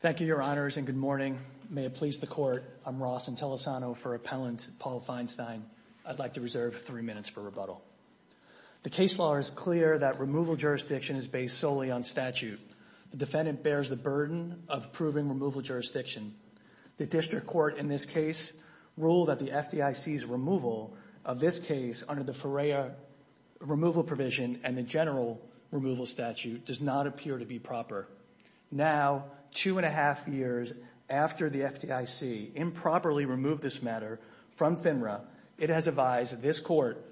Thank you, Your Honors, and good morning. May it please the Court, I'm Ross Intellisano for Appellant Paul Feinstein. I'd like to reserve three minutes for rebuttal. The case law is clear that removal jurisdiction is based solely on statute. The defendant bears the burden of proving removal jurisdiction. The district court in this case ruled that the FDIC's removal of this case under the Ferreira removal provision and the general removal statute does not appear to be proper. Now, two and a half years after the FDIC improperly removed this matter from FINRA, it has advised this Court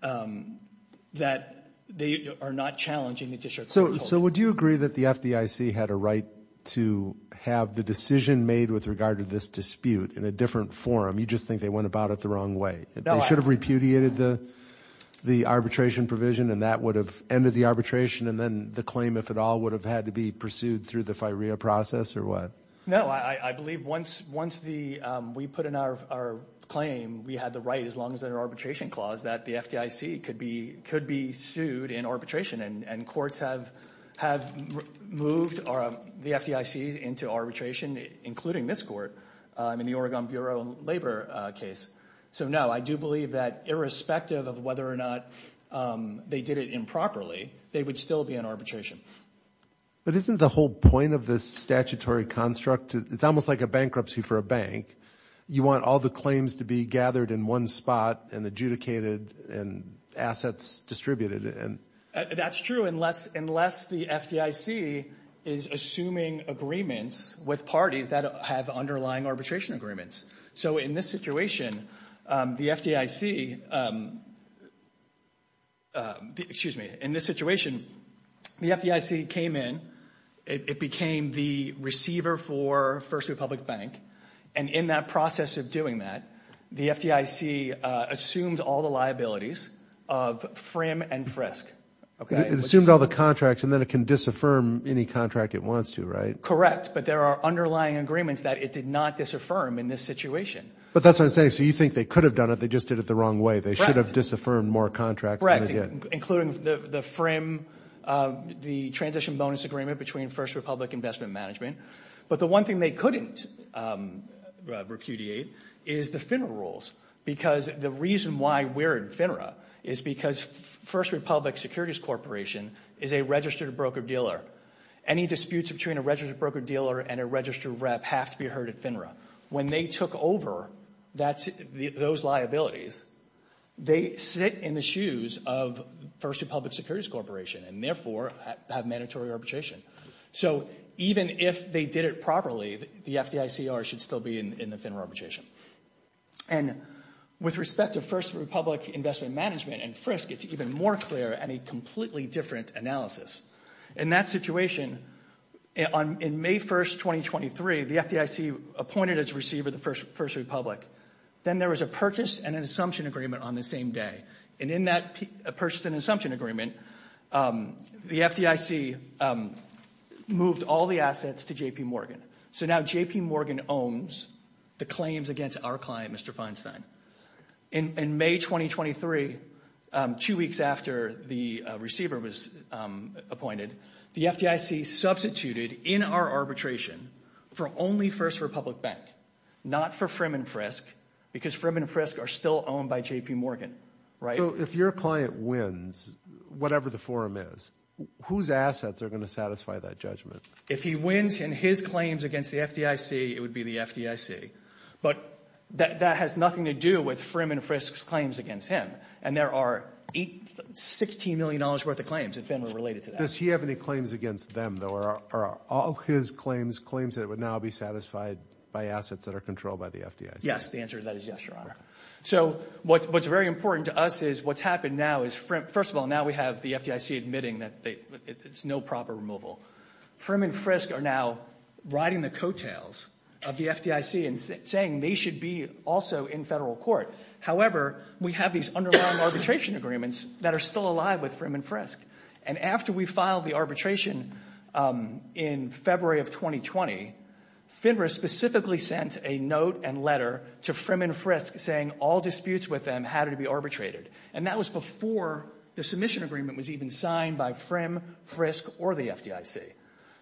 that they are not challenging the district court's ruling. So would you agree that the FDIC had a right to have the decision made with regard to this dispute in a different forum? You just think they went about it the wrong way. They should have repudiated the arbitration provision and that would have ended the arbitration and then the claim, if at all, would have had to be pursued through the Ferreira process or what? No, I believe once we put in our claim, we had the right, as long as there's an arbitration clause, that the FDIC could be sued in arbitration and courts have moved the FDIC into arbitration, including this Court, in the Oregon Bureau of Labor case. So no, I do believe that irrespective of whether or not they did it improperly, they would still be in arbitration. But isn't the whole point of this statutory construct, it's almost like a bankruptcy for a bank. You want all the claims to be gathered in one spot and adjudicated and assets distributed. That's true, unless the FDIC is assuming agreements with parties that have underlying arbitration agreements. So in this situation, the FDIC came in, it became the receiver for First Republic Bank, and in that process of doing that, the FDIC assumed all the liabilities of FRIM and FRISC. It assumed all the contracts and then it can disaffirm any contract it wants to, right? Correct, but there are underlying agreements that it did not disaffirm in this situation. But that's what I'm saying. So you think they could have done it, they just did it the wrong way. They should have disaffirmed more contracts. Correct, including the FRIM, the transition bonus agreement between First Republic Investment Management. But the one thing they couldn't repudiate is the FINRA rules, because the reason why we're in FINRA is because First Republic Securities Corporation is a registered broker dealer. Any disputes between a registered broker dealer and a registered rep have to be heard at FINRA. When they took over those liabilities, they sit in the shoes of First Republic Securities Corporation and therefore have mandatory arbitration. So even if they did it properly, the FDICR should still be in the FINRA arbitration. And with respect to First Republic Investment Management and FRISC, it's even more clear and a completely different analysis. In that situation, in May 1st, 2023, the FDIC appointed its receiver, the First Republic. Then there was a purchase and an assumption agreement on the same day. And in that purchase and assumption agreement, the FDIC moved all the assets to J.P. Morgan. So now J.P. Morgan owns the claims against our client, Mr. Feinstein. In May 2023, two weeks after the receiver was appointed, the FDIC substituted in our arbitration for only First Republic Bank, not for FRIM and FRISC, because FRIM and FRISC are still owned by J.P. Morgan, right? If your client wins, whatever the forum is, whose assets are going to satisfy that judgment? If he wins in his claims against the FDIC, it would be the FDIC. But that has nothing to do with FRIM and FRISC's claims against him. And there are $16 million worth of claims in FINRA related to that. Does he have any claims against them, though? Are all his claims claims that would now be satisfied by assets that are controlled by the FDIC? Yes, the answer to that is yes, Your Honor. So what's very important to us is what's happened now is, first of all, now we have the FDIC admitting that it's no proper removal. FRIM and FRISC are now riding the coattails of the FDIC and saying they should be also in federal court. However, we have these underlying arbitration agreements that are still alive with FRIM and FRISC. And after we filed the arbitration in February of 2020, FINRA specifically sent a note and letter to FRIM and FRISC saying all disputes with them had to be arbitrated. And that was before the submission agreement was even signed by FRIM, FRISC, or the FDIC.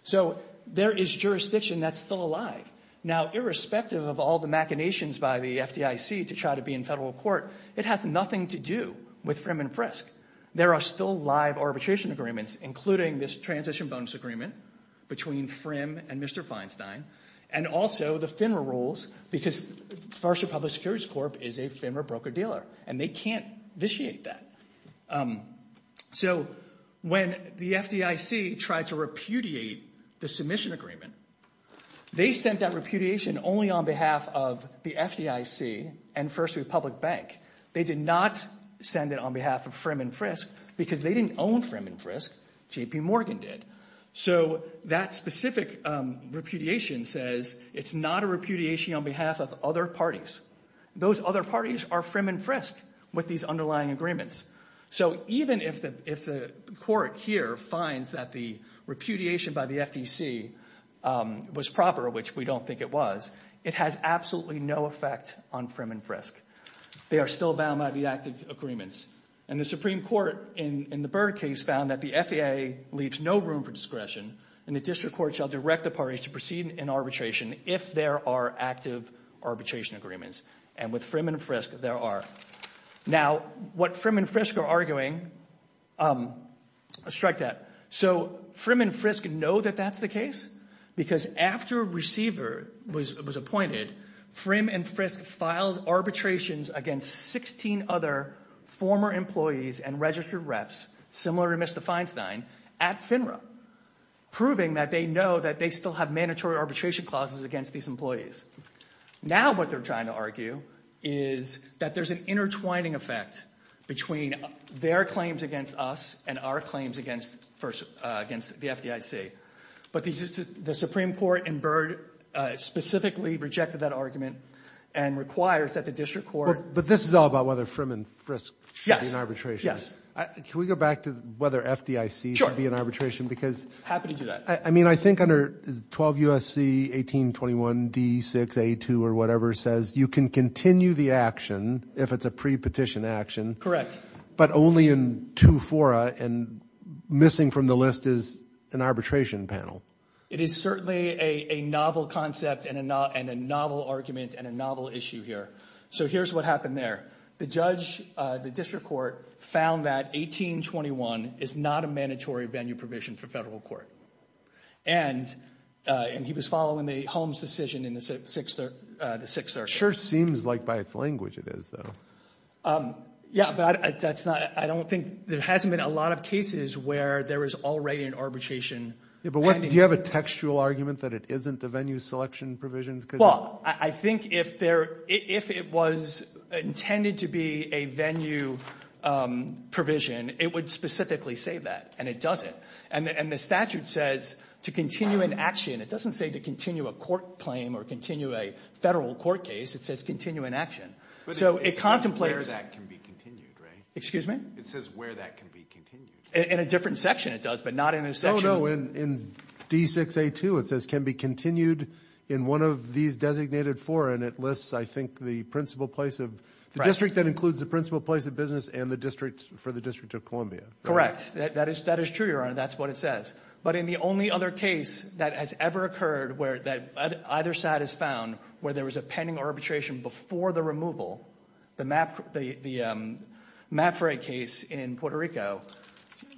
So there is jurisdiction that's still alive. Now, irrespective of all the machinations by the FDIC to try to be in federal court, it has nothing to do with FRIM and FRISC. There are still live arbitration agreements, including this transition bonus agreement between FRIM and Mr. Feinstein, and also the FINRA rules, because Farsha Public Securities Corp is a FINRA broker-dealer, and they can't vitiate that. So when the FDIC tried to repudiate the submission agreement, they sent that repudiation only on behalf of the FDIC and Farsha Public Bank. They did not send it on behalf of FRIM and FRISC, because they didn't own FRIM and FRISC. J.P. Morgan did. So that specific repudiation says it's not a repudiation on behalf of other parties. Those other parties are FRIM and FRISC with these underlying agreements. So even if the court here finds that the repudiation by the FDIC was proper, which we don't think it was, it has absolutely no effect on FRIM and FRISC. They are still bound by the active agreements. And the Supreme Court, in the Byrd case, found that the FAA leaves no room for discretion, and the district court shall direct the parties to proceed in arbitration if there are active arbitration agreements. And with FRIM and FRISC, there are. Now, what FRIM and FRISC are arguing, let's strike that. So FRIM and FRISC know that that's the case, because after a receiver was appointed, FRIM and FRISC filed arbitrations against 16 other former employees and registered reps, similar to Mr. Feinstein, at FINRA, proving that they still have mandatory arbitration clauses against these employees. Now what they're trying to argue is that there's an intertwining effect between their claims against us and our claims against the FDIC. But the Supreme Court in Byrd specifically rejected that argument and requires that the district court... But this is all about whether FRIM and FRISC should be in arbitration. Can we go back to whether FDIC should be in arbitration? Sure. Happy to do that. I mean, I think under 12 U.S.C. 1821 D.6.A.2 or whatever says you can continue the action if it's a pre-petition action, but only in two fora, and missing from the list is an arbitration panel. It is certainly a novel concept and a novel argument and a novel issue here. So here's what happened there. The judge, the district court, found that 1821 is not a mandatory venue provision for federal court. And he was following the Holmes decision in the sixth argument. It sure seems like by its language it is, though. Yeah, but I don't think there hasn't been a lot of cases where there is already an arbitration panel. Yeah, but do you have a textual argument that it isn't a venue selection provision? Well, I think if it was intended to be a venue provision, it would specifically say that, and it doesn't. And the statute says to continue an action. It doesn't say to continue a court claim or continue a federal court case. It says continue an action. But it says where that can be continued, right? Excuse me? It says where that can be continued. In a different section it does, but not in a section. No, no, in D.6.A.2 it says can be continued in one of these designated fora, and it lists, I think, the principal place of the district that includes the principal place of business and the district for the District of Columbia. Correct. That is true, Your Honor. That's what it says. But in the only other case that has ever occurred where either side has found where there was a pending arbitration before the removal, the Mapfre case in Puerto Rico,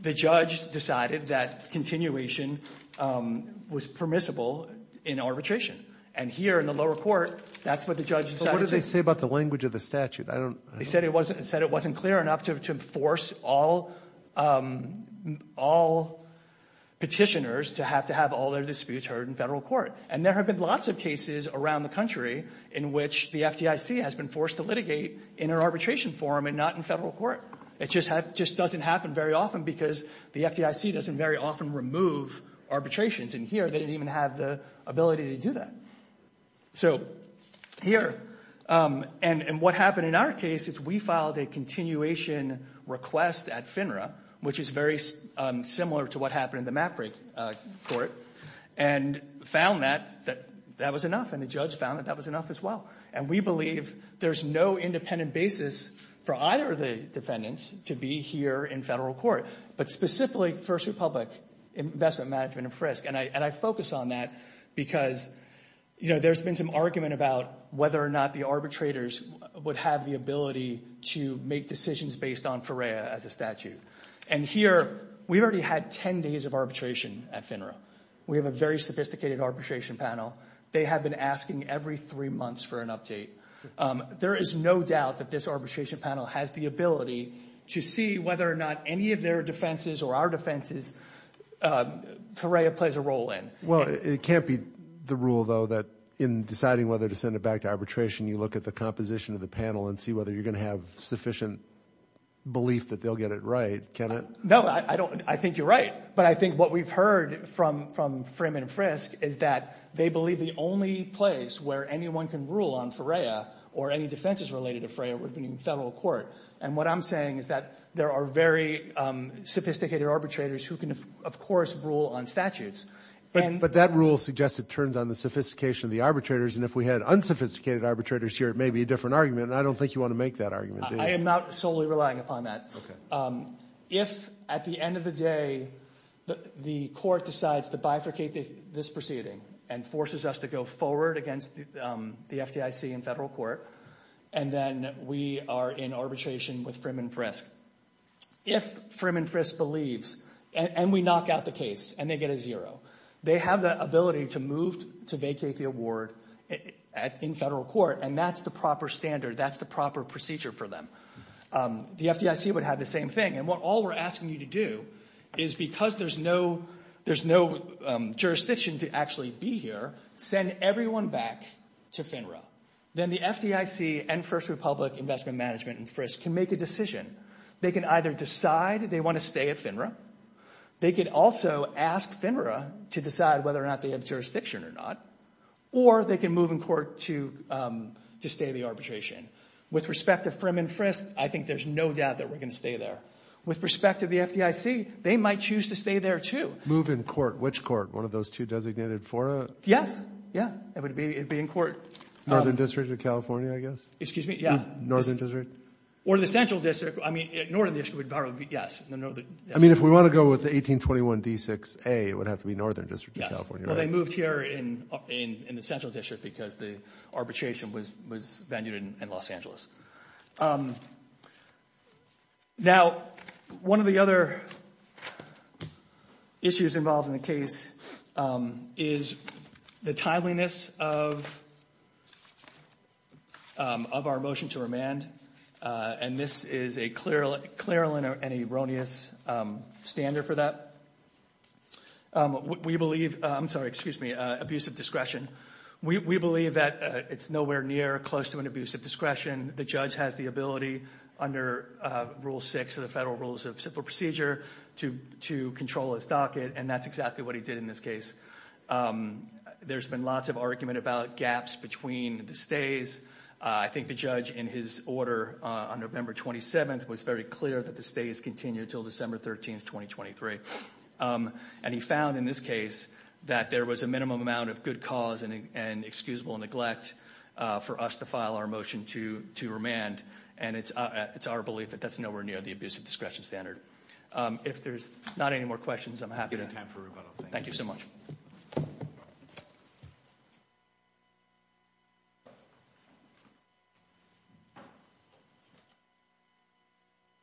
the judge decided that continuation was permissible in arbitration. And here in the lower court, that's what the judge decided to do. But what did they say about the language of the statute? They said it wasn't clear enough to force all petitioners to have to have all their disputes heard in federal court. And there have been lots of cases around the country in which the FDIC has been forced to litigate in an arbitration forum and not in federal court. It just doesn't happen very often because the FDIC doesn't very often remove arbitrations. And here they didn't even have the ability to do that. So here, and what happened in our case is we filed a continuation request at FINRA, which is very similar to what happened in the Mapfre court, and found that that was enough. And the judge found that that was enough as well. And we believe there's no independent basis for either of the defendants to be here in federal court, but specifically First Republic Investment Management and Frisk. And I focus on that because, you know, there's been some argument about whether or not the arbitrators would have the ability to make decisions based on FERREA as a statute. And here, we've already had 10 days of arbitration at FINRA. We have a very sophisticated arbitration panel. They have been asking every three months for an update. There is no doubt that this arbitration panel has the ability to see whether or not any of their defenses or our defenses, FERREA plays a role in. Well, it can't be the rule, though, that in deciding whether to send it back to arbitration, you look at the composition of the panel and see whether you're going to have sufficient belief that they'll get it right, can it? No, I don't. I think you're right. But I think what we've heard from Frim and Frisk is that they believe the only place where anyone can rule on FERREA or any defenses related to FERREA would be in federal court. And what I'm saying is that there are very sophisticated arbitrators who can, of course, rule on statutes. But that rule suggests it turns on the sophistication of the arbitrators. And if we had unsophisticated arbitrators here, it may be a different argument. And I don't think you want to make that argument. I am not solely relying upon that. If, at the end of the day, the court decides to bifurcate this proceeding and forces us to go forward against the FDIC in federal court, and then we are in arbitration with Frim and Frisk, if Frim and Frisk believes and we knock out the case and they get a zero, they have the ability to move to vacate the award in federal court. And that's the proper standard. That's the proper procedure for them. The FDIC would have the same thing. And what all we're asking you to do is, because there's no jurisdiction to actually be here, send everyone back to FINRA. Then the FDIC and First Republic Investment Management and Frisk can make a decision. They can either decide they want to stay at FINRA. They could also ask FINRA to decide whether or not they have jurisdiction or not. Or they can move in court to stay the arbitration. With respect to Frim and Frisk, I think there's no doubt that we're going to stay there. With respect to the FDIC, they might choose to stay there, too. Move in court. Which court? One of those two designated FORA? Yes. It would be in court. Northern District of California, I guess? Excuse me? Yeah. Northern District? Or the Central District. I mean, Northern District would probably be, yes. I mean, if we want to go with the 1821 D6A, it would have to be Northern District of California, right? Well, they moved here in the Central District because the arbitration was venued in Los Angeles. Now, one of the other issues involved in the case is the timeliness of our motion to remand. And this is a clear, clear and erroneous standard for that. We believe, I'm sorry, excuse me, abuse of discretion. We believe that it's nowhere near close to an abuse of discretion. The judge has the ability under Rule 6 of the Federal Rules of Civil Procedure to control his docket, and that's exactly what he did in this case. There's been lots of argument about gaps between the stays. I think the judge, in his order on November 27th, was very clear that the stays continue until December 13th, 2023. And he found, in this case, that there was a minimum amount of good cause and excusable neglect for us to file our motion to remand. And it's our belief that that's nowhere near the abuse of discretion standard. If there's not any more questions, I'm happy to... We have time for rebuttal. Thank you so much.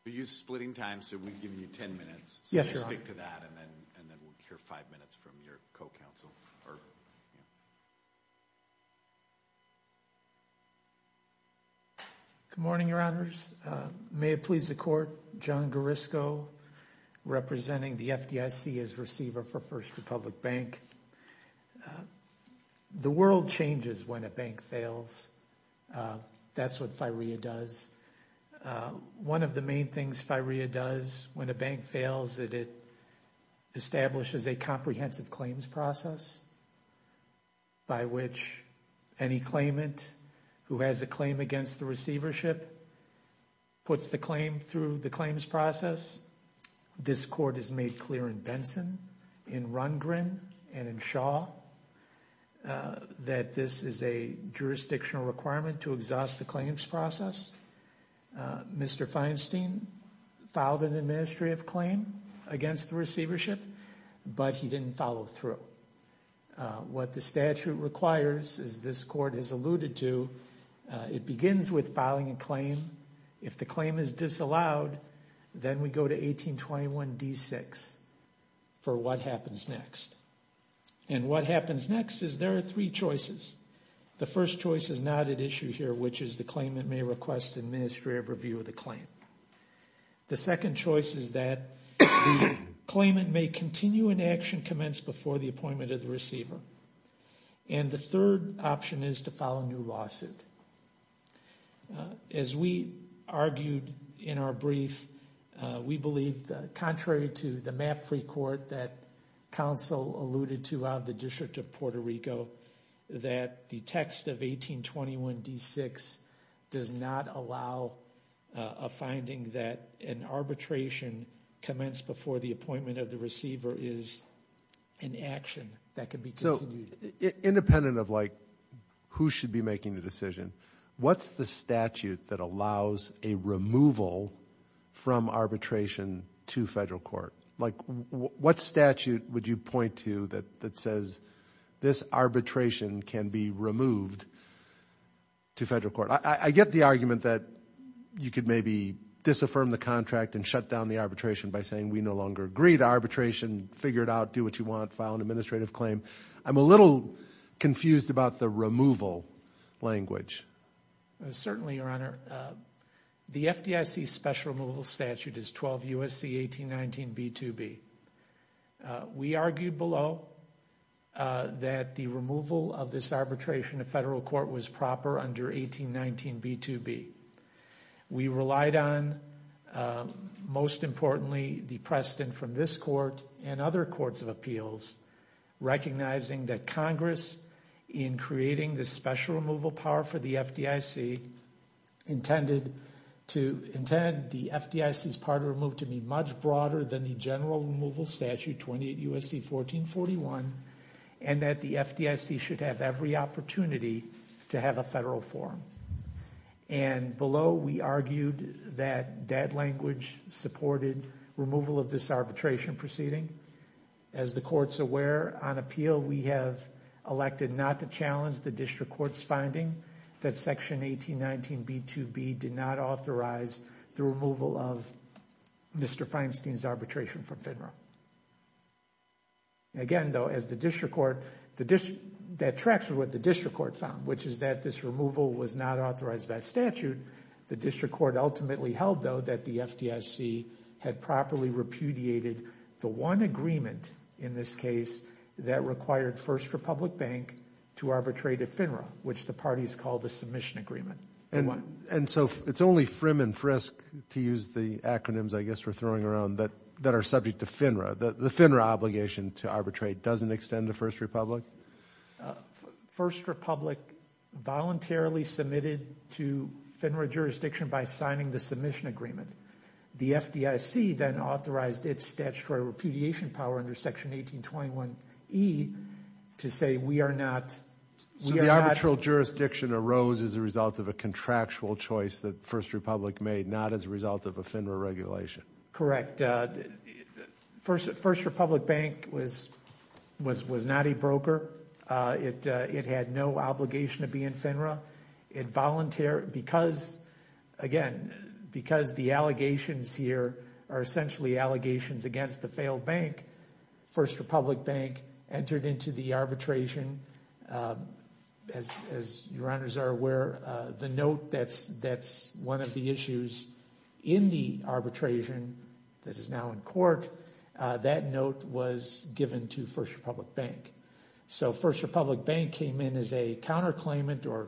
We're splitting time, so we've given you 10 minutes. Yes, Your Honor. We'll stick to that, and then we'll hear five minutes from your co-counsel, or, you know... Good morning, Your Honors. May it please the Court, John Garrisco, representing the FDIC as Receiver for First Republic Bank. The world changes when a bank fails. That's what FIREA does. One of the main things FIREA does when a bank fails is it establishes a comprehensive claims process by which any claimant who has a claim against the receivership puts the claim through the claims process. This Court has made clear in Benson, in Rundgren, and in Shaw that this is a jurisdictional requirement to exhaust the claims process. Mr. Feinstein filed an administrative claim against the receivership, but he didn't follow through. What the statute requires, as this Court has alluded to, it begins with filing a claim. If the claim is disallowed, then we go to 1821d6 for what happens next. And what happens next is there are three choices. The first choice is not at issue here, which is the claimant may request administrative review of the claim. The second choice is that the claimant may continue an action commenced before the appointment of the receiver. And the third option is to file a new lawsuit. As we argued in our brief, we believe that contrary to the map free court that counsel alluded to out of the District of Puerto Rico, that the text of 1821d6 does not allow a finding that an arbitration commenced before the appointment of the receiver is an action that can be continued. Independent of who should be making the decision, what's the statute that allows a removal from arbitration to federal court? What statute would you point to that says this arbitration can be removed to federal court? I get the argument that you could maybe disaffirm the contract and shut down the arbitration by saying we no longer agree to arbitration. Figure it out. Do what you want. File an administrative claim. I'm a little confused about the removal language. Certainly, Your Honor. The FDIC special removal statute is 12 U.S.C. 1819b2b. We argued below that the removal of this arbitration to federal court was proper under 1819b2b. We relied on, most importantly, the precedent from this court and other courts of appeals, recognizing that Congress, in creating this special removal power for the FDIC, intended the FDIC's part to be removed to be much broader than the general removal statute, 28 U.S.C. 1441, and that the FDIC should have every opportunity to have a federal forum. Below, we argued that that language supported removal of this arbitration proceeding. As the court's aware, on appeal, we have elected not to challenge the district court's finding that section 1819b2b did not authorize the removal of Mr. Feinstein's arbitration from FDMRA. Again, though, as the district court... that tracks with what the district court found, which is that this removal was not authorized by statute. The district court ultimately held, though, that the FDIC had properly repudiated the one agreement, in this case, that required First Republic Bank to arbitrate at FINRA, which the parties called the submission agreement. And so, it's only FRIM and FRISC, to use the acronyms, I guess, we're throwing around, are subject to FINRA. The FINRA obligation to arbitrate doesn't extend to First Republic? First Republic voluntarily submitted to FINRA jurisdiction by signing the submission agreement. The FDIC then authorized its statutory repudiation power under section 1821e to say, we are not... So, the arbitral jurisdiction arose as a result of a contractual choice that First Republic made, not as a result of a FINRA regulation? Correct. First Republic Bank was not a broker. It had no obligation to be in FINRA. It volunteered because, again, because the allegations here are essentially allegations against the failed bank. First Republic Bank entered into the arbitration, as your honors are aware, the note that's one of the issues in the arbitration that is now in court, that note was given to First Republic Bank. So, First Republic Bank came in as a counterclaimant or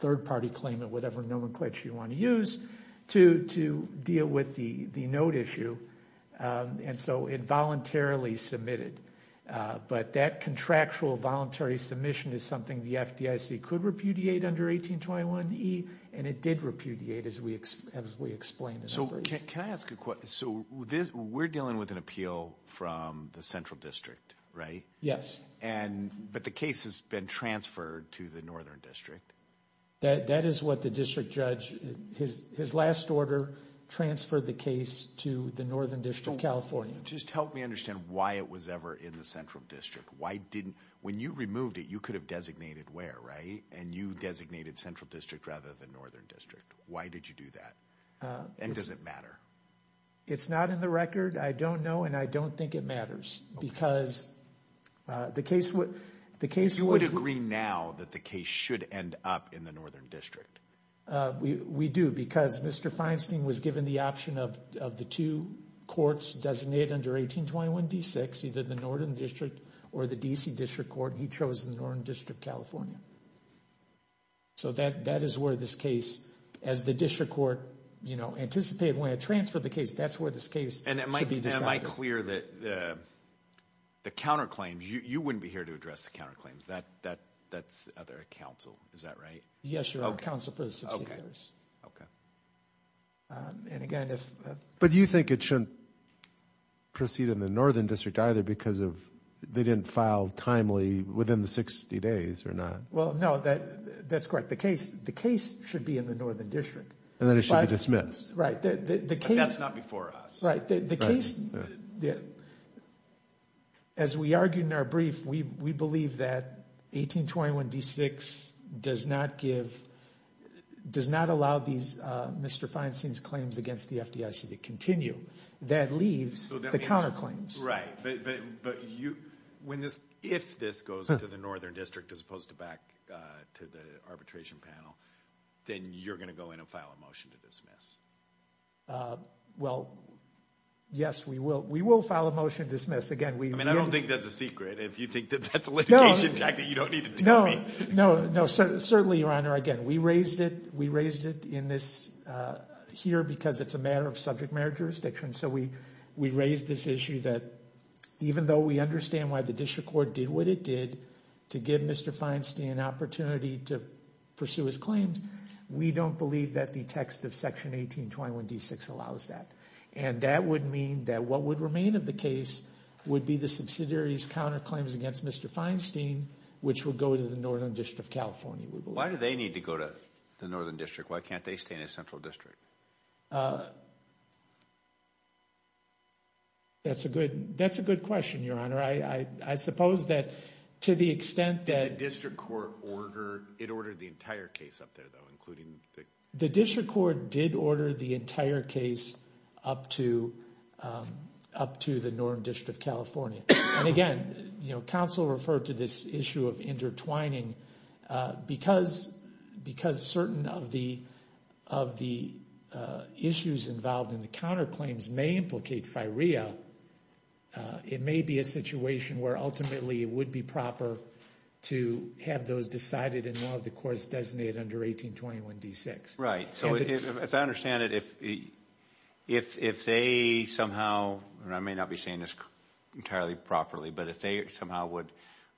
third-party claimant, whatever nomenclature you want to use, to deal with the note issue. And so, it voluntarily submitted. But that contractual voluntary submission is something the FDIC could repudiate under 1821e, and it did repudiate, as we explained. So, can I ask a question? So, we're dealing with an appeal from the Central District, right? Yes. But the case has been transferred to the Northern District. That is what the district judge... his last order transferred the case to the Northern District of California. Just help me understand why it was ever in the Central District. Why and you designated Central District rather than Northern District? Why did you do that? And does it matter? It's not in the record. I don't know, and I don't think it matters, because the case was... You would agree now that the case should end up in the Northern District? We do, because Mr. Feinstein was given the option of the two courts designated under 1821d6, either the Northern District or the D.C. District Court. He chose the Northern District, California. So, that is where this case, as the District Court, you know, anticipated when it transferred the case, that's where this case should be decided. And am I clear that the counterclaims... you wouldn't be here to address the counterclaims. That's other counsel, is that right? Yes, you're our counsel for the subsidiaries. Okay. And again, if... But you think it shouldn't proceed in the Northern District either because of... they didn't file timely within the 60 days or not? Well, no, that's correct. The case should be in the Northern District. And then it should be dismissed. Right, the case... But that's not before us. Right, the case... As we argued in our brief, we believe that 1821d6 does not give... does not allow these Mr. Feinstein's claims against the FDIC to continue. That leaves the counterclaims. Right, but you... when this... if this goes to the Northern District as opposed to back to the arbitration panel, then you're going to go in and file a motion to dismiss? Well, yes, we will. We will file a motion to dismiss. Again, we... I mean, I don't think that's a secret. If you think that that's a litigation tactic, you don't need to tell me. No, no, no. Certainly, Your Honor, again, we raised it. We raised it in this... here because it's a matter of subject matter jurisdiction. So we raised this issue that even though we understand why the district court did what it did to give Mr. Feinstein an opportunity to pursue his claims, we don't believe that the text of Section 1821d6 allows that. And that would mean that what would remain of the case would be the subsidiary's counterclaims against Mr. Feinstein, which would go to the Northern District of California, we believe. Why do they need to go to the Northern District? That's a good question, Your Honor. I suppose that to the extent that... Did the district court order... it ordered the entire case up there, though, including the... The district court did order the entire case up to the Northern District of California. And again, counsel referred to this issue of intertwining. Because certain of the issues involved in the counterclaims may implicate firea, it may be a situation where ultimately it would be proper to have those decided in one of the courts designated under 1821d6. Right. So as I understand it, if they somehow... and I may not be saying this entirely properly, but if they somehow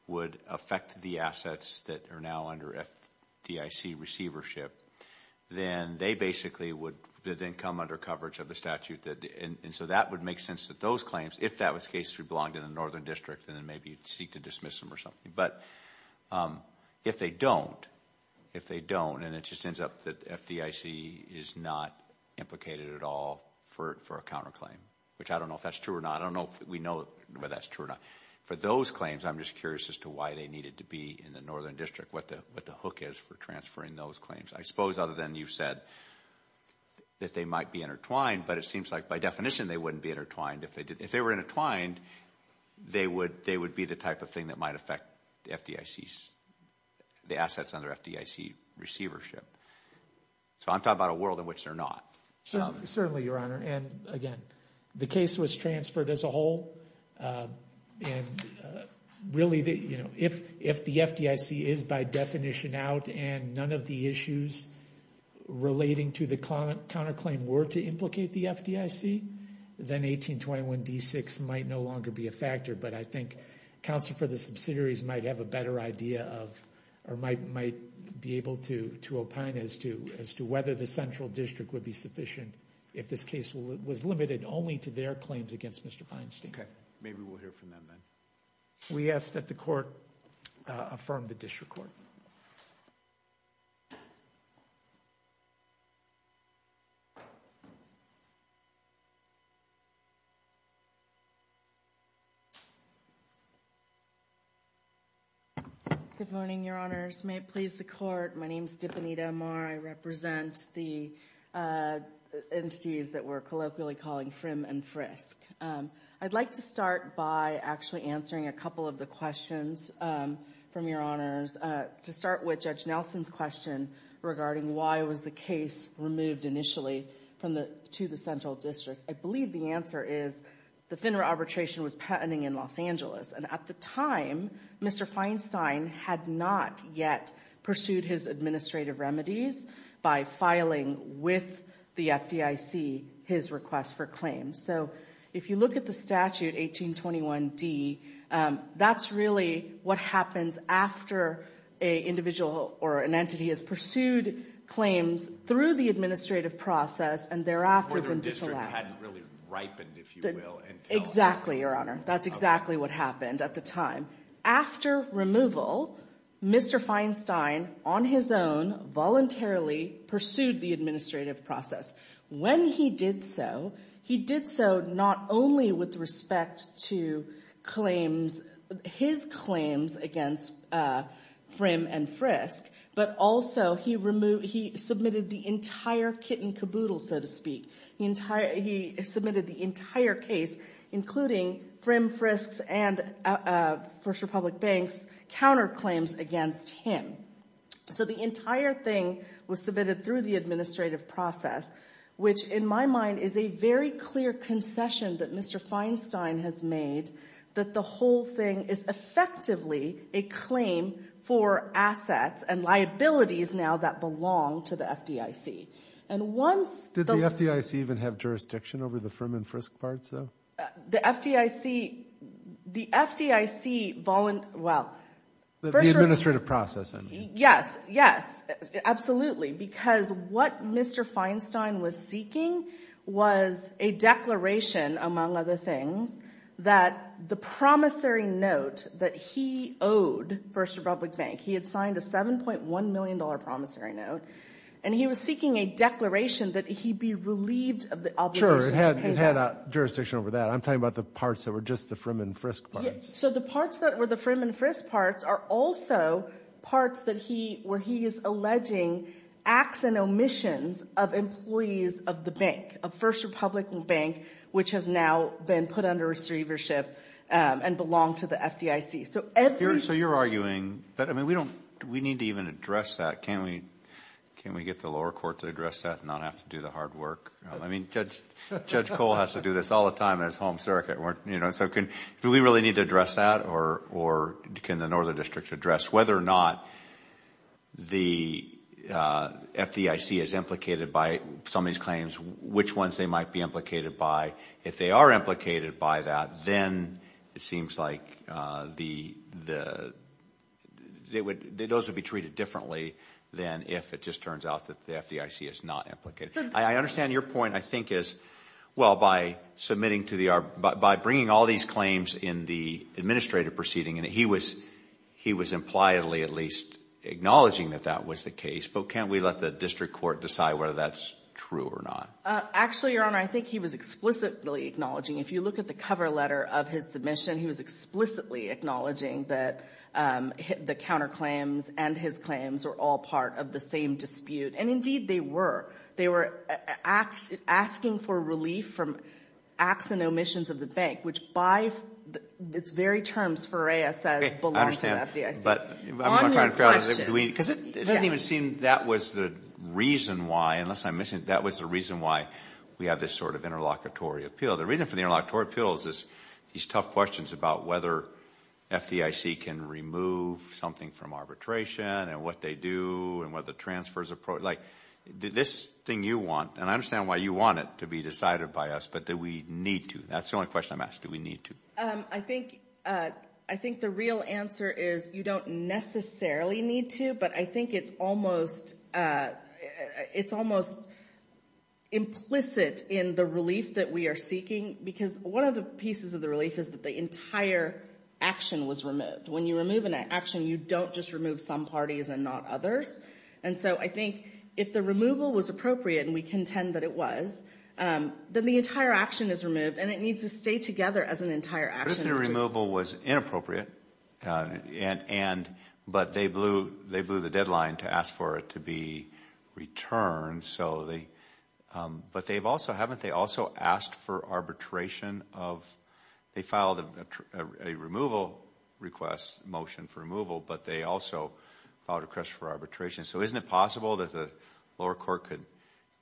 would affect the assets that are now under FDIC receivership, then they basically would then come under coverage of the statute. And so that would make sense that those claims, if that was the case, would belong to the Northern District and then maybe seek to dismiss them or something. But if they don't, if they don't, and it just ends up that FDIC is not implicated at all for a counterclaim, which I don't know if that's true or not. I don't know if we know whether that's true or not. For those claims, I'm just curious as to why they needed to be in the Northern District, what the hook is for transferring those claims. I suppose other than you said that they might be intertwined, but it seems like by definition they wouldn't be intertwined. If they were intertwined, they would be the type of thing that might affect the FDIC's... the assets under FDIC receivership. So I'm talking about a world in which they're not. Certainly, Your Honor. And again, the case was transferred as a whole. And really, you know, if the FDIC is by definition out and none of the issues relating to the counterclaim were to implicate the FDIC, then 1821d6 might no longer be a factor. But I think counsel for the subsidiaries might have a better idea of, or might be able to opine as to whether the Central District would be sufficient if this case was limited only to their claims against Mr. Feinstein. Okay. Maybe we'll hear from them then. We ask that the Court affirm the disrecord. Good morning, Your Honors. May it please the Court, my name is Dipanita Amar. I represent the entities that we're colloquially calling Frim and Frisk. I'd like to start by actually answering a couple of the questions from Your Honors. To start with Judge Nelson's question regarding why was the case removed initially to the Central District? I believe the answer is the FINRA arbitration was patenting in Los Angeles, and at the time, Mr. Feinstein had not yet pursued his administrative remedies by filing with the FDIC his request for claims. So if you look at the statute 1821d, that's really what happens after an individual or an entity has pursued claims through the administrative process and thereafter the district hadn't really ripened, if you will. Exactly, Your Honor. That's exactly what happened at the time. After removal, Mr. Feinstein on his voluntarily pursued the administrative process. When he did so, he did so not only with respect to his claims against Frim and Frisk, but also he submitted the entire kit and caboodle, so to speak. He submitted the entire case, including Frim, Frisk, and First Republic counterclaims against him. So the entire thing was submitted through the administrative process, which in my mind is a very clear concession that Mr. Feinstein has made that the whole thing is effectively a claim for assets and liabilities now that belong to the FDIC. Did the FDIC even have jurisdiction over the Frim and Frisk part, though? The FDIC, the FDIC voluntarily, well. The administrative process, I mean. Yes, yes, absolutely. Because what Mr. Feinstein was seeking was a declaration, among other things, that the promissory note that he owed First Republic Bank, he had signed a $7.1 million promissory note, and he was seeking a declaration that he'd be relieved of the obligation. It had jurisdiction over that. I'm talking about the parts that were just the Frim and Frisk parts. So the parts that were the Frim and Frisk parts are also parts where he is alleging acts and omissions of employees of the bank, of First Republican Bank, which has now been put under receivership and belonged to the FDIC. So you're arguing that, I mean, we need to even address that. Can't we get the lower court to address that and not have to do the hard work? I mean, Judge Cole has to do this all the time at his home circuit. So do we really need to address that, or can the Northern District address whether or not the FDIC is implicated by some of these claims, which ones they might be implicated by? If they are implicated by that, then it seems like those would be treated differently than if it just turns out that the FDIC is not implicated. I understand your point, I think, is, well, by submitting to the, by bringing all these claims in the administrative proceeding, and he was impliedly at least acknowledging that that was the case, but can't we let the district court decide whether that's true or not? Actually, Your Honor, I think he was explicitly acknowledging. If you look at the cover letter of his submission, he was explicitly acknowledging that the counterclaims and his claims were all part of the same dispute, and indeed they were. They were asking for relief from acts and omissions of the bank, which by its very terms for ASS belong to the FDIC. I understand, but I'm trying to figure out, because it doesn't even seem that was the reason why, unless I'm missing, that was the reason why we have this sort of interlocutory appeal. The reason for the interlocutory appeal is these tough questions about whether FDIC can remove something from arbitration, and what they do, and what the transfers are, like, this thing you want, and I understand why you want it to be decided by us, but do we need to? That's the only question I'm asking, do we need to? I think, I think the real answer is you don't necessarily need to, but I think it's almost, it's almost implicit in the relief that we are seeking, because one of the pieces of the relief is that the entire action was removed. When you remove an action, you don't just remove some parties and not others, and so I think if the removal was appropriate, and we contend that it was, then the entire action is removed, and it needs to stay together as an entire action. But if the removal was inappropriate, and, and, but they blew, they blew the deadline to ask for it to be returned, so they, but they've also, haven't they also asked for arbitration of, they filed a removal request, motion for removal, but they also filed a request for arbitration, so isn't it possible that the lower court could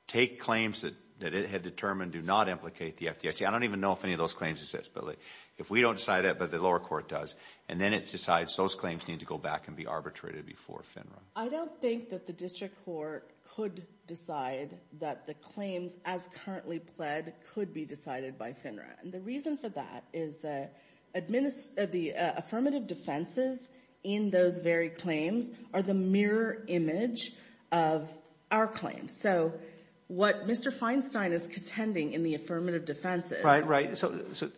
take claims that, that it had determined do not implicate the FDIC? I don't even know if any of those claims exist, but if we don't decide that, but the lower court does, and then it decides those claims need to go back and be arbitrated before FINRA. I don't think that the district court could decide that the claims, as currently pled, could be decided by FINRA, and the reason for that is the administ, the affirmative defenses in those very claims are the mirror image of our claims. So what Mr. Feinstein is contending in the affirmative defenses, Right, right, so, so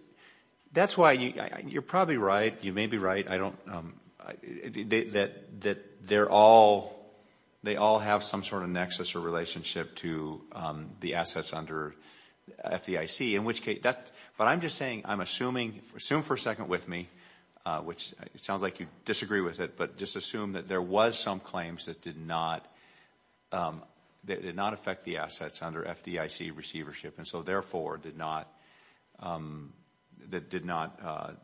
that's why you, you're probably right, you may be right, I don't, that, that they're all, they all have some sort of nexus or relationship to the assets under FDIC, in which case, that's, but I'm just saying, I'm assuming, assume for a second with me, which it sounds like you disagree with it, but just assume that there was some claims that did not, that did not affect the assets under FDIC receivership, and so therefore did not, that did not,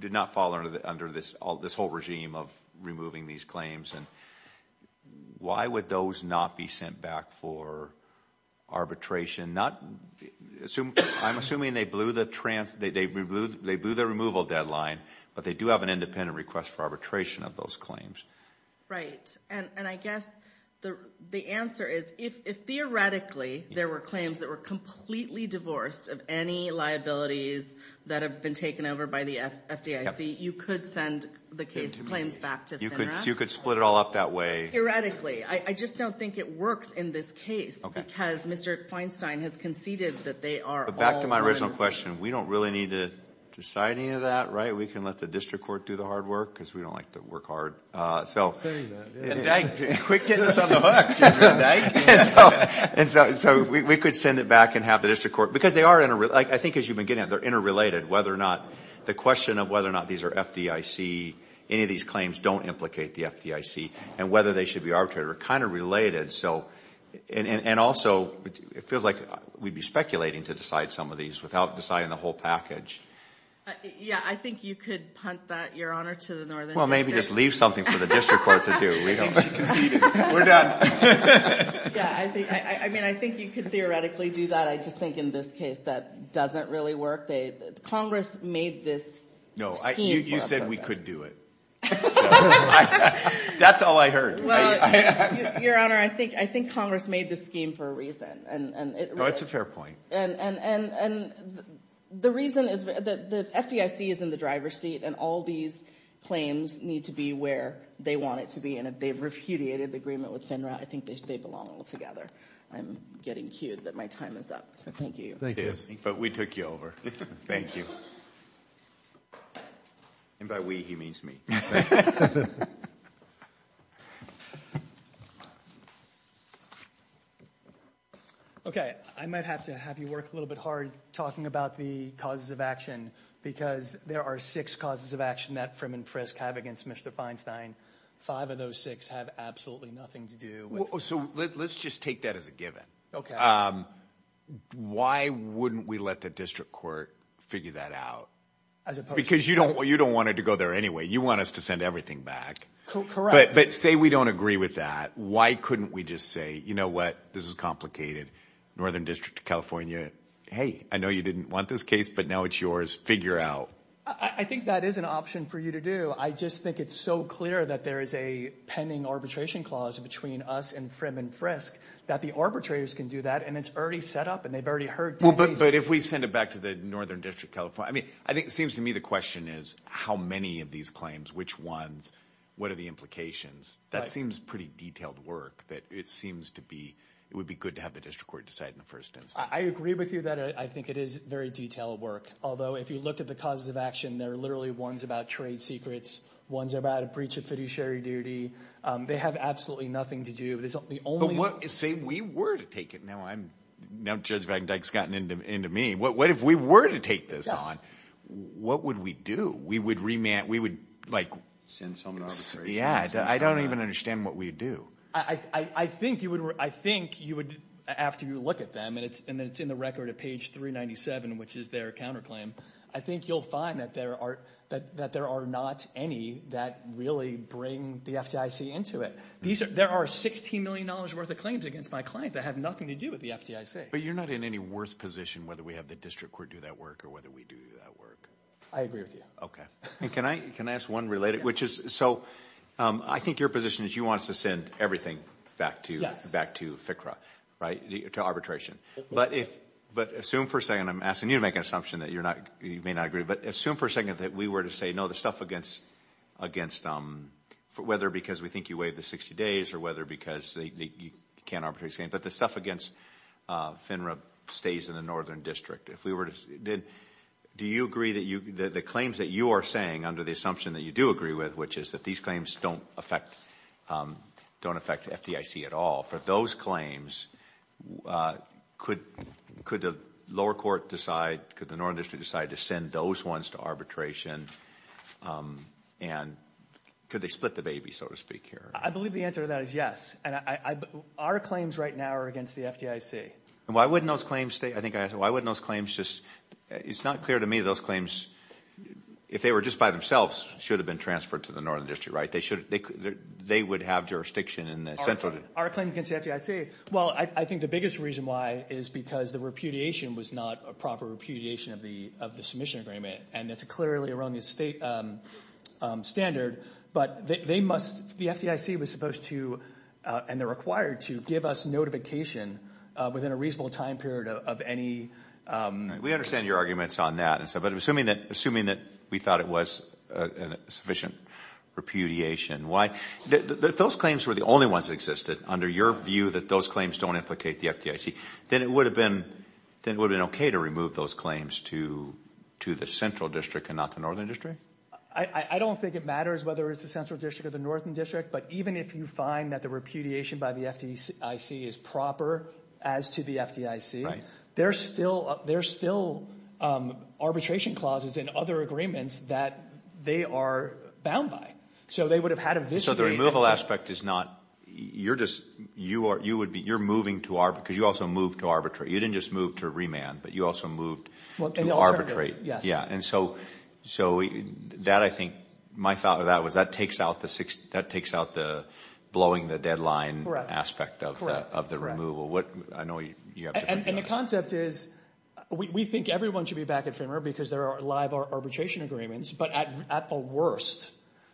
did not fall under the, under this, this whole regime of removing these claims, and why would those not be sent back for arbitration, not, assume, I'm assuming they blew the trans, they, they blew, they blew the removal deadline, but they do have an independent request for arbitration of those claims. Right, and, and I guess the, the answer is, if, if theoretically there were claims that were completely divorced of any liabilities that have been taken over by the FDIC, you could send the case, the claims back to FINRA? You could, you could split it all up that way. Theoretically, I, I just don't think it works in this case. Okay. Because Mr. Feinstein has conceded that they are all. But back to my original question, we don't really need to decide any of that, right? We can let the district court do the hard work, because we don't like to work hard, so. I'm saying that, yeah. And Dyke, quit getting us on the hook, did you hear that, Dyke? And so, and so, so we, we could send it back and have the district court, because they are, I think as you've been getting at it, they're interrelated, whether or not, the question of whether or not these are FDIC, any of these claims don't implicate the FDIC, and whether they should be arbitrated are kind of related, so. And, and, and also, it feels like we'd be speculating to decide some of these without deciding the whole package. Yeah, I think you could punt that, Your Honor, to the northern district. Well, maybe just leave something for the district court to do. I think she conceded. We're done. Yeah, I think, I, I mean, I think you could theoretically do that. I just think in this case, that doesn't really work. They, Congress made this scheme. No, I, you, you said we could do it. That's all I heard. Well, Your Honor, I think, I think Congress made this scheme for a reason, and, and it. No, it's a fair point. And, and, and, and the reason is that the FDIC is in the driver's seat, and all these claims need to be where they want it to be, and if they've repudiated the agreement with FINRA, I think they, they belong all together. I'm getting cued that my time is up, so thank you. Thank you. But we took you over. Thank you. And by we, he means me. Okay, I might have to have you work a little bit hard talking about the causes of action, because there are six causes of action that Frim and Prisk have against Mr. Feinstein. Five of those six have absolutely nothing to do with. So let, let's just take that as a given. Okay. Why wouldn't we let the district court figure that out? As opposed to. Because you don't, you don't want it to go there anyway. You want us to send everything back. Correct. But, but say we don't agree with that. Why couldn't we just say, you know what, this is complicated. Northern District of California, hey, I know you didn't want this case, but now it's yours. Figure out. I think that is an option for you to do. I just think it's so clear that there is a pending arbitration clause between us and Frim and Prisk that the arbitrators can do that. And it's already set up and they've already heard. But if we send it back to the Northern District California, I mean, I think it seems to me the question is how many of these claims, which ones, what are the implications? That seems pretty detailed work that it seems to be, it would be good to have the district court decide in the first instance. I agree with you that I think it is very detailed work. Although if you looked at the causes of action, there are literally ones about trade secrets, ones about a breach of fiduciary duty. They have absolutely nothing to do, but it's the only. But what, say we were to take it. Now I'm, now Judge Van Dyck's gotten into, into me. What, what if we were to take this on? What would we do? We would remand, we would like. Send some arbitration. Yeah. I don't even understand what we'd do. I, I, I think you would, I think you would, after you look at them and it's, and then it's in the record at page 397, which is their counterclaim. I think you'll find that there are, that, that there are not any that really bring the FDIC into it. These are, there are $16 million worth of claims against my client that have nothing to do with the FDIC. But you're not in any worse position whether we have the district court do that work or whether we do that work. I agree with you. Okay. And can I, can I ask one related, which is, so I think your position is you want us to send everything back to, back to FCRA, right? To arbitration. But if, but assume for a second, I'm asking you to make an assumption that you're not, you may not agree, but assume for a second that we were to say, no, the stuff against, against whether because we think you waived the 60 days or whether because you can't arbitrate, but the stuff against FINRA stays in the Northern District. If we were to, do you agree that you, the claims that you are saying under the assumption that you do agree with, which is that these claims don't affect, don't affect FDIC at all, for those claims, could, could the lower court decide, could the Northern District decide to send those ones to arbitration? And could they split the baby, so to speak, here? I believe the answer to that is yes. And I, I, our claims right now are against the FDIC. And why wouldn't those claims stay? I think I asked, why wouldn't those claims just, it's not clear to me those claims, if they were just by themselves, should have been transferred to the Northern District, right? They should, they could, they would have jurisdiction in the Central District. Our claim against the FDIC, well, I think the biggest reason why is because the repudiation was not a proper repudiation of the, of the submission agreement. And that's a clearly erroneous state standard. But they must, the FDIC was supposed to, and they're required to, give us notification within a reasonable time period of any... We understand your arguments on that. But assuming that, assuming that we thought it was sufficient repudiation, why, those claims were the only ones that existed, under your view that those claims don't implicate the FDIC, then it would have been, then it would have been okay to remove those claims to, to the Central District and not the Northern District? I don't think it matters whether it's the Central District or the Northern District. But even if you find that the repudiation by the FDIC is proper as to the FDIC, there's still, there's still arbitration clauses and other agreements that they are bound by. So they would have had a vis-a-vis... So the removal aspect is not, you're just, you are, you would be, you're moving to arbitrate, because you also moved to arbitrate. You didn't just move to remand, but you also moved to arbitrate. Yeah. And so, so that I think, my thought of that was that takes out the six, that takes out the blowing the deadline aspect of that, of the removal. What, I know you have... And the concept is, we think everyone should be back at FMR because there are live arbitration agreements, but at, at the worst,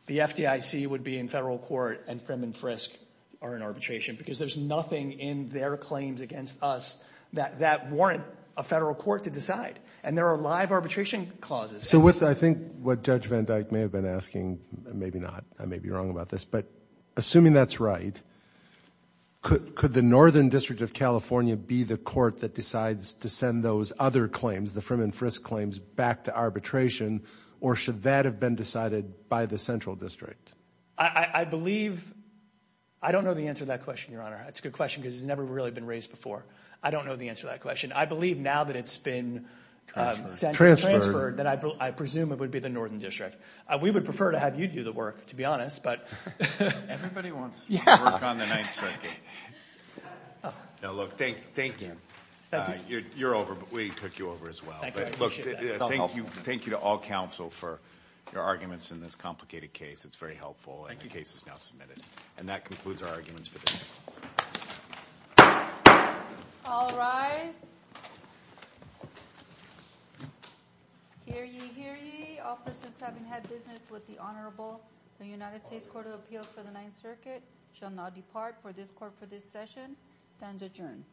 the FDIC would be in federal court and Frim and Frisk are in arbitration, because there's nothing in their claims against us that, that warrant a federal court to decide. And there are live arbitration clauses. So with, I think what Judge Van Dyke may have been asking, maybe not, I may be wrong about this, but assuming that's right, could, could the Northern District of California be the court that decides to send those other claims, the Frim and Frisk claims, back to arbitration, or should that have been decided by the Central District? I, I believe, I don't know the answer to that question, Your Honor. That's a good question, because it's never really been raised before. I don't know the answer to that question. I believe now that it's been... Transferred. Transferred, that I, I presume it would be the Northern District. We would prefer to have you do the work, to be honest, but... Everybody wants to work on the Ninth Circuit. Look, thank, thank you. You're, you're over, but we took you over as well. But look, thank you, thank you to all counsel for your arguments in this complicated case. It's very helpful, and the case is now submitted. And that concludes our arguments for today. All rise. Hear ye, hear ye. Officers having had business with the Honorable, the United States Court of Appeals for the Ninth Circuit, shall now depart for this court for this session. Stands adjourned.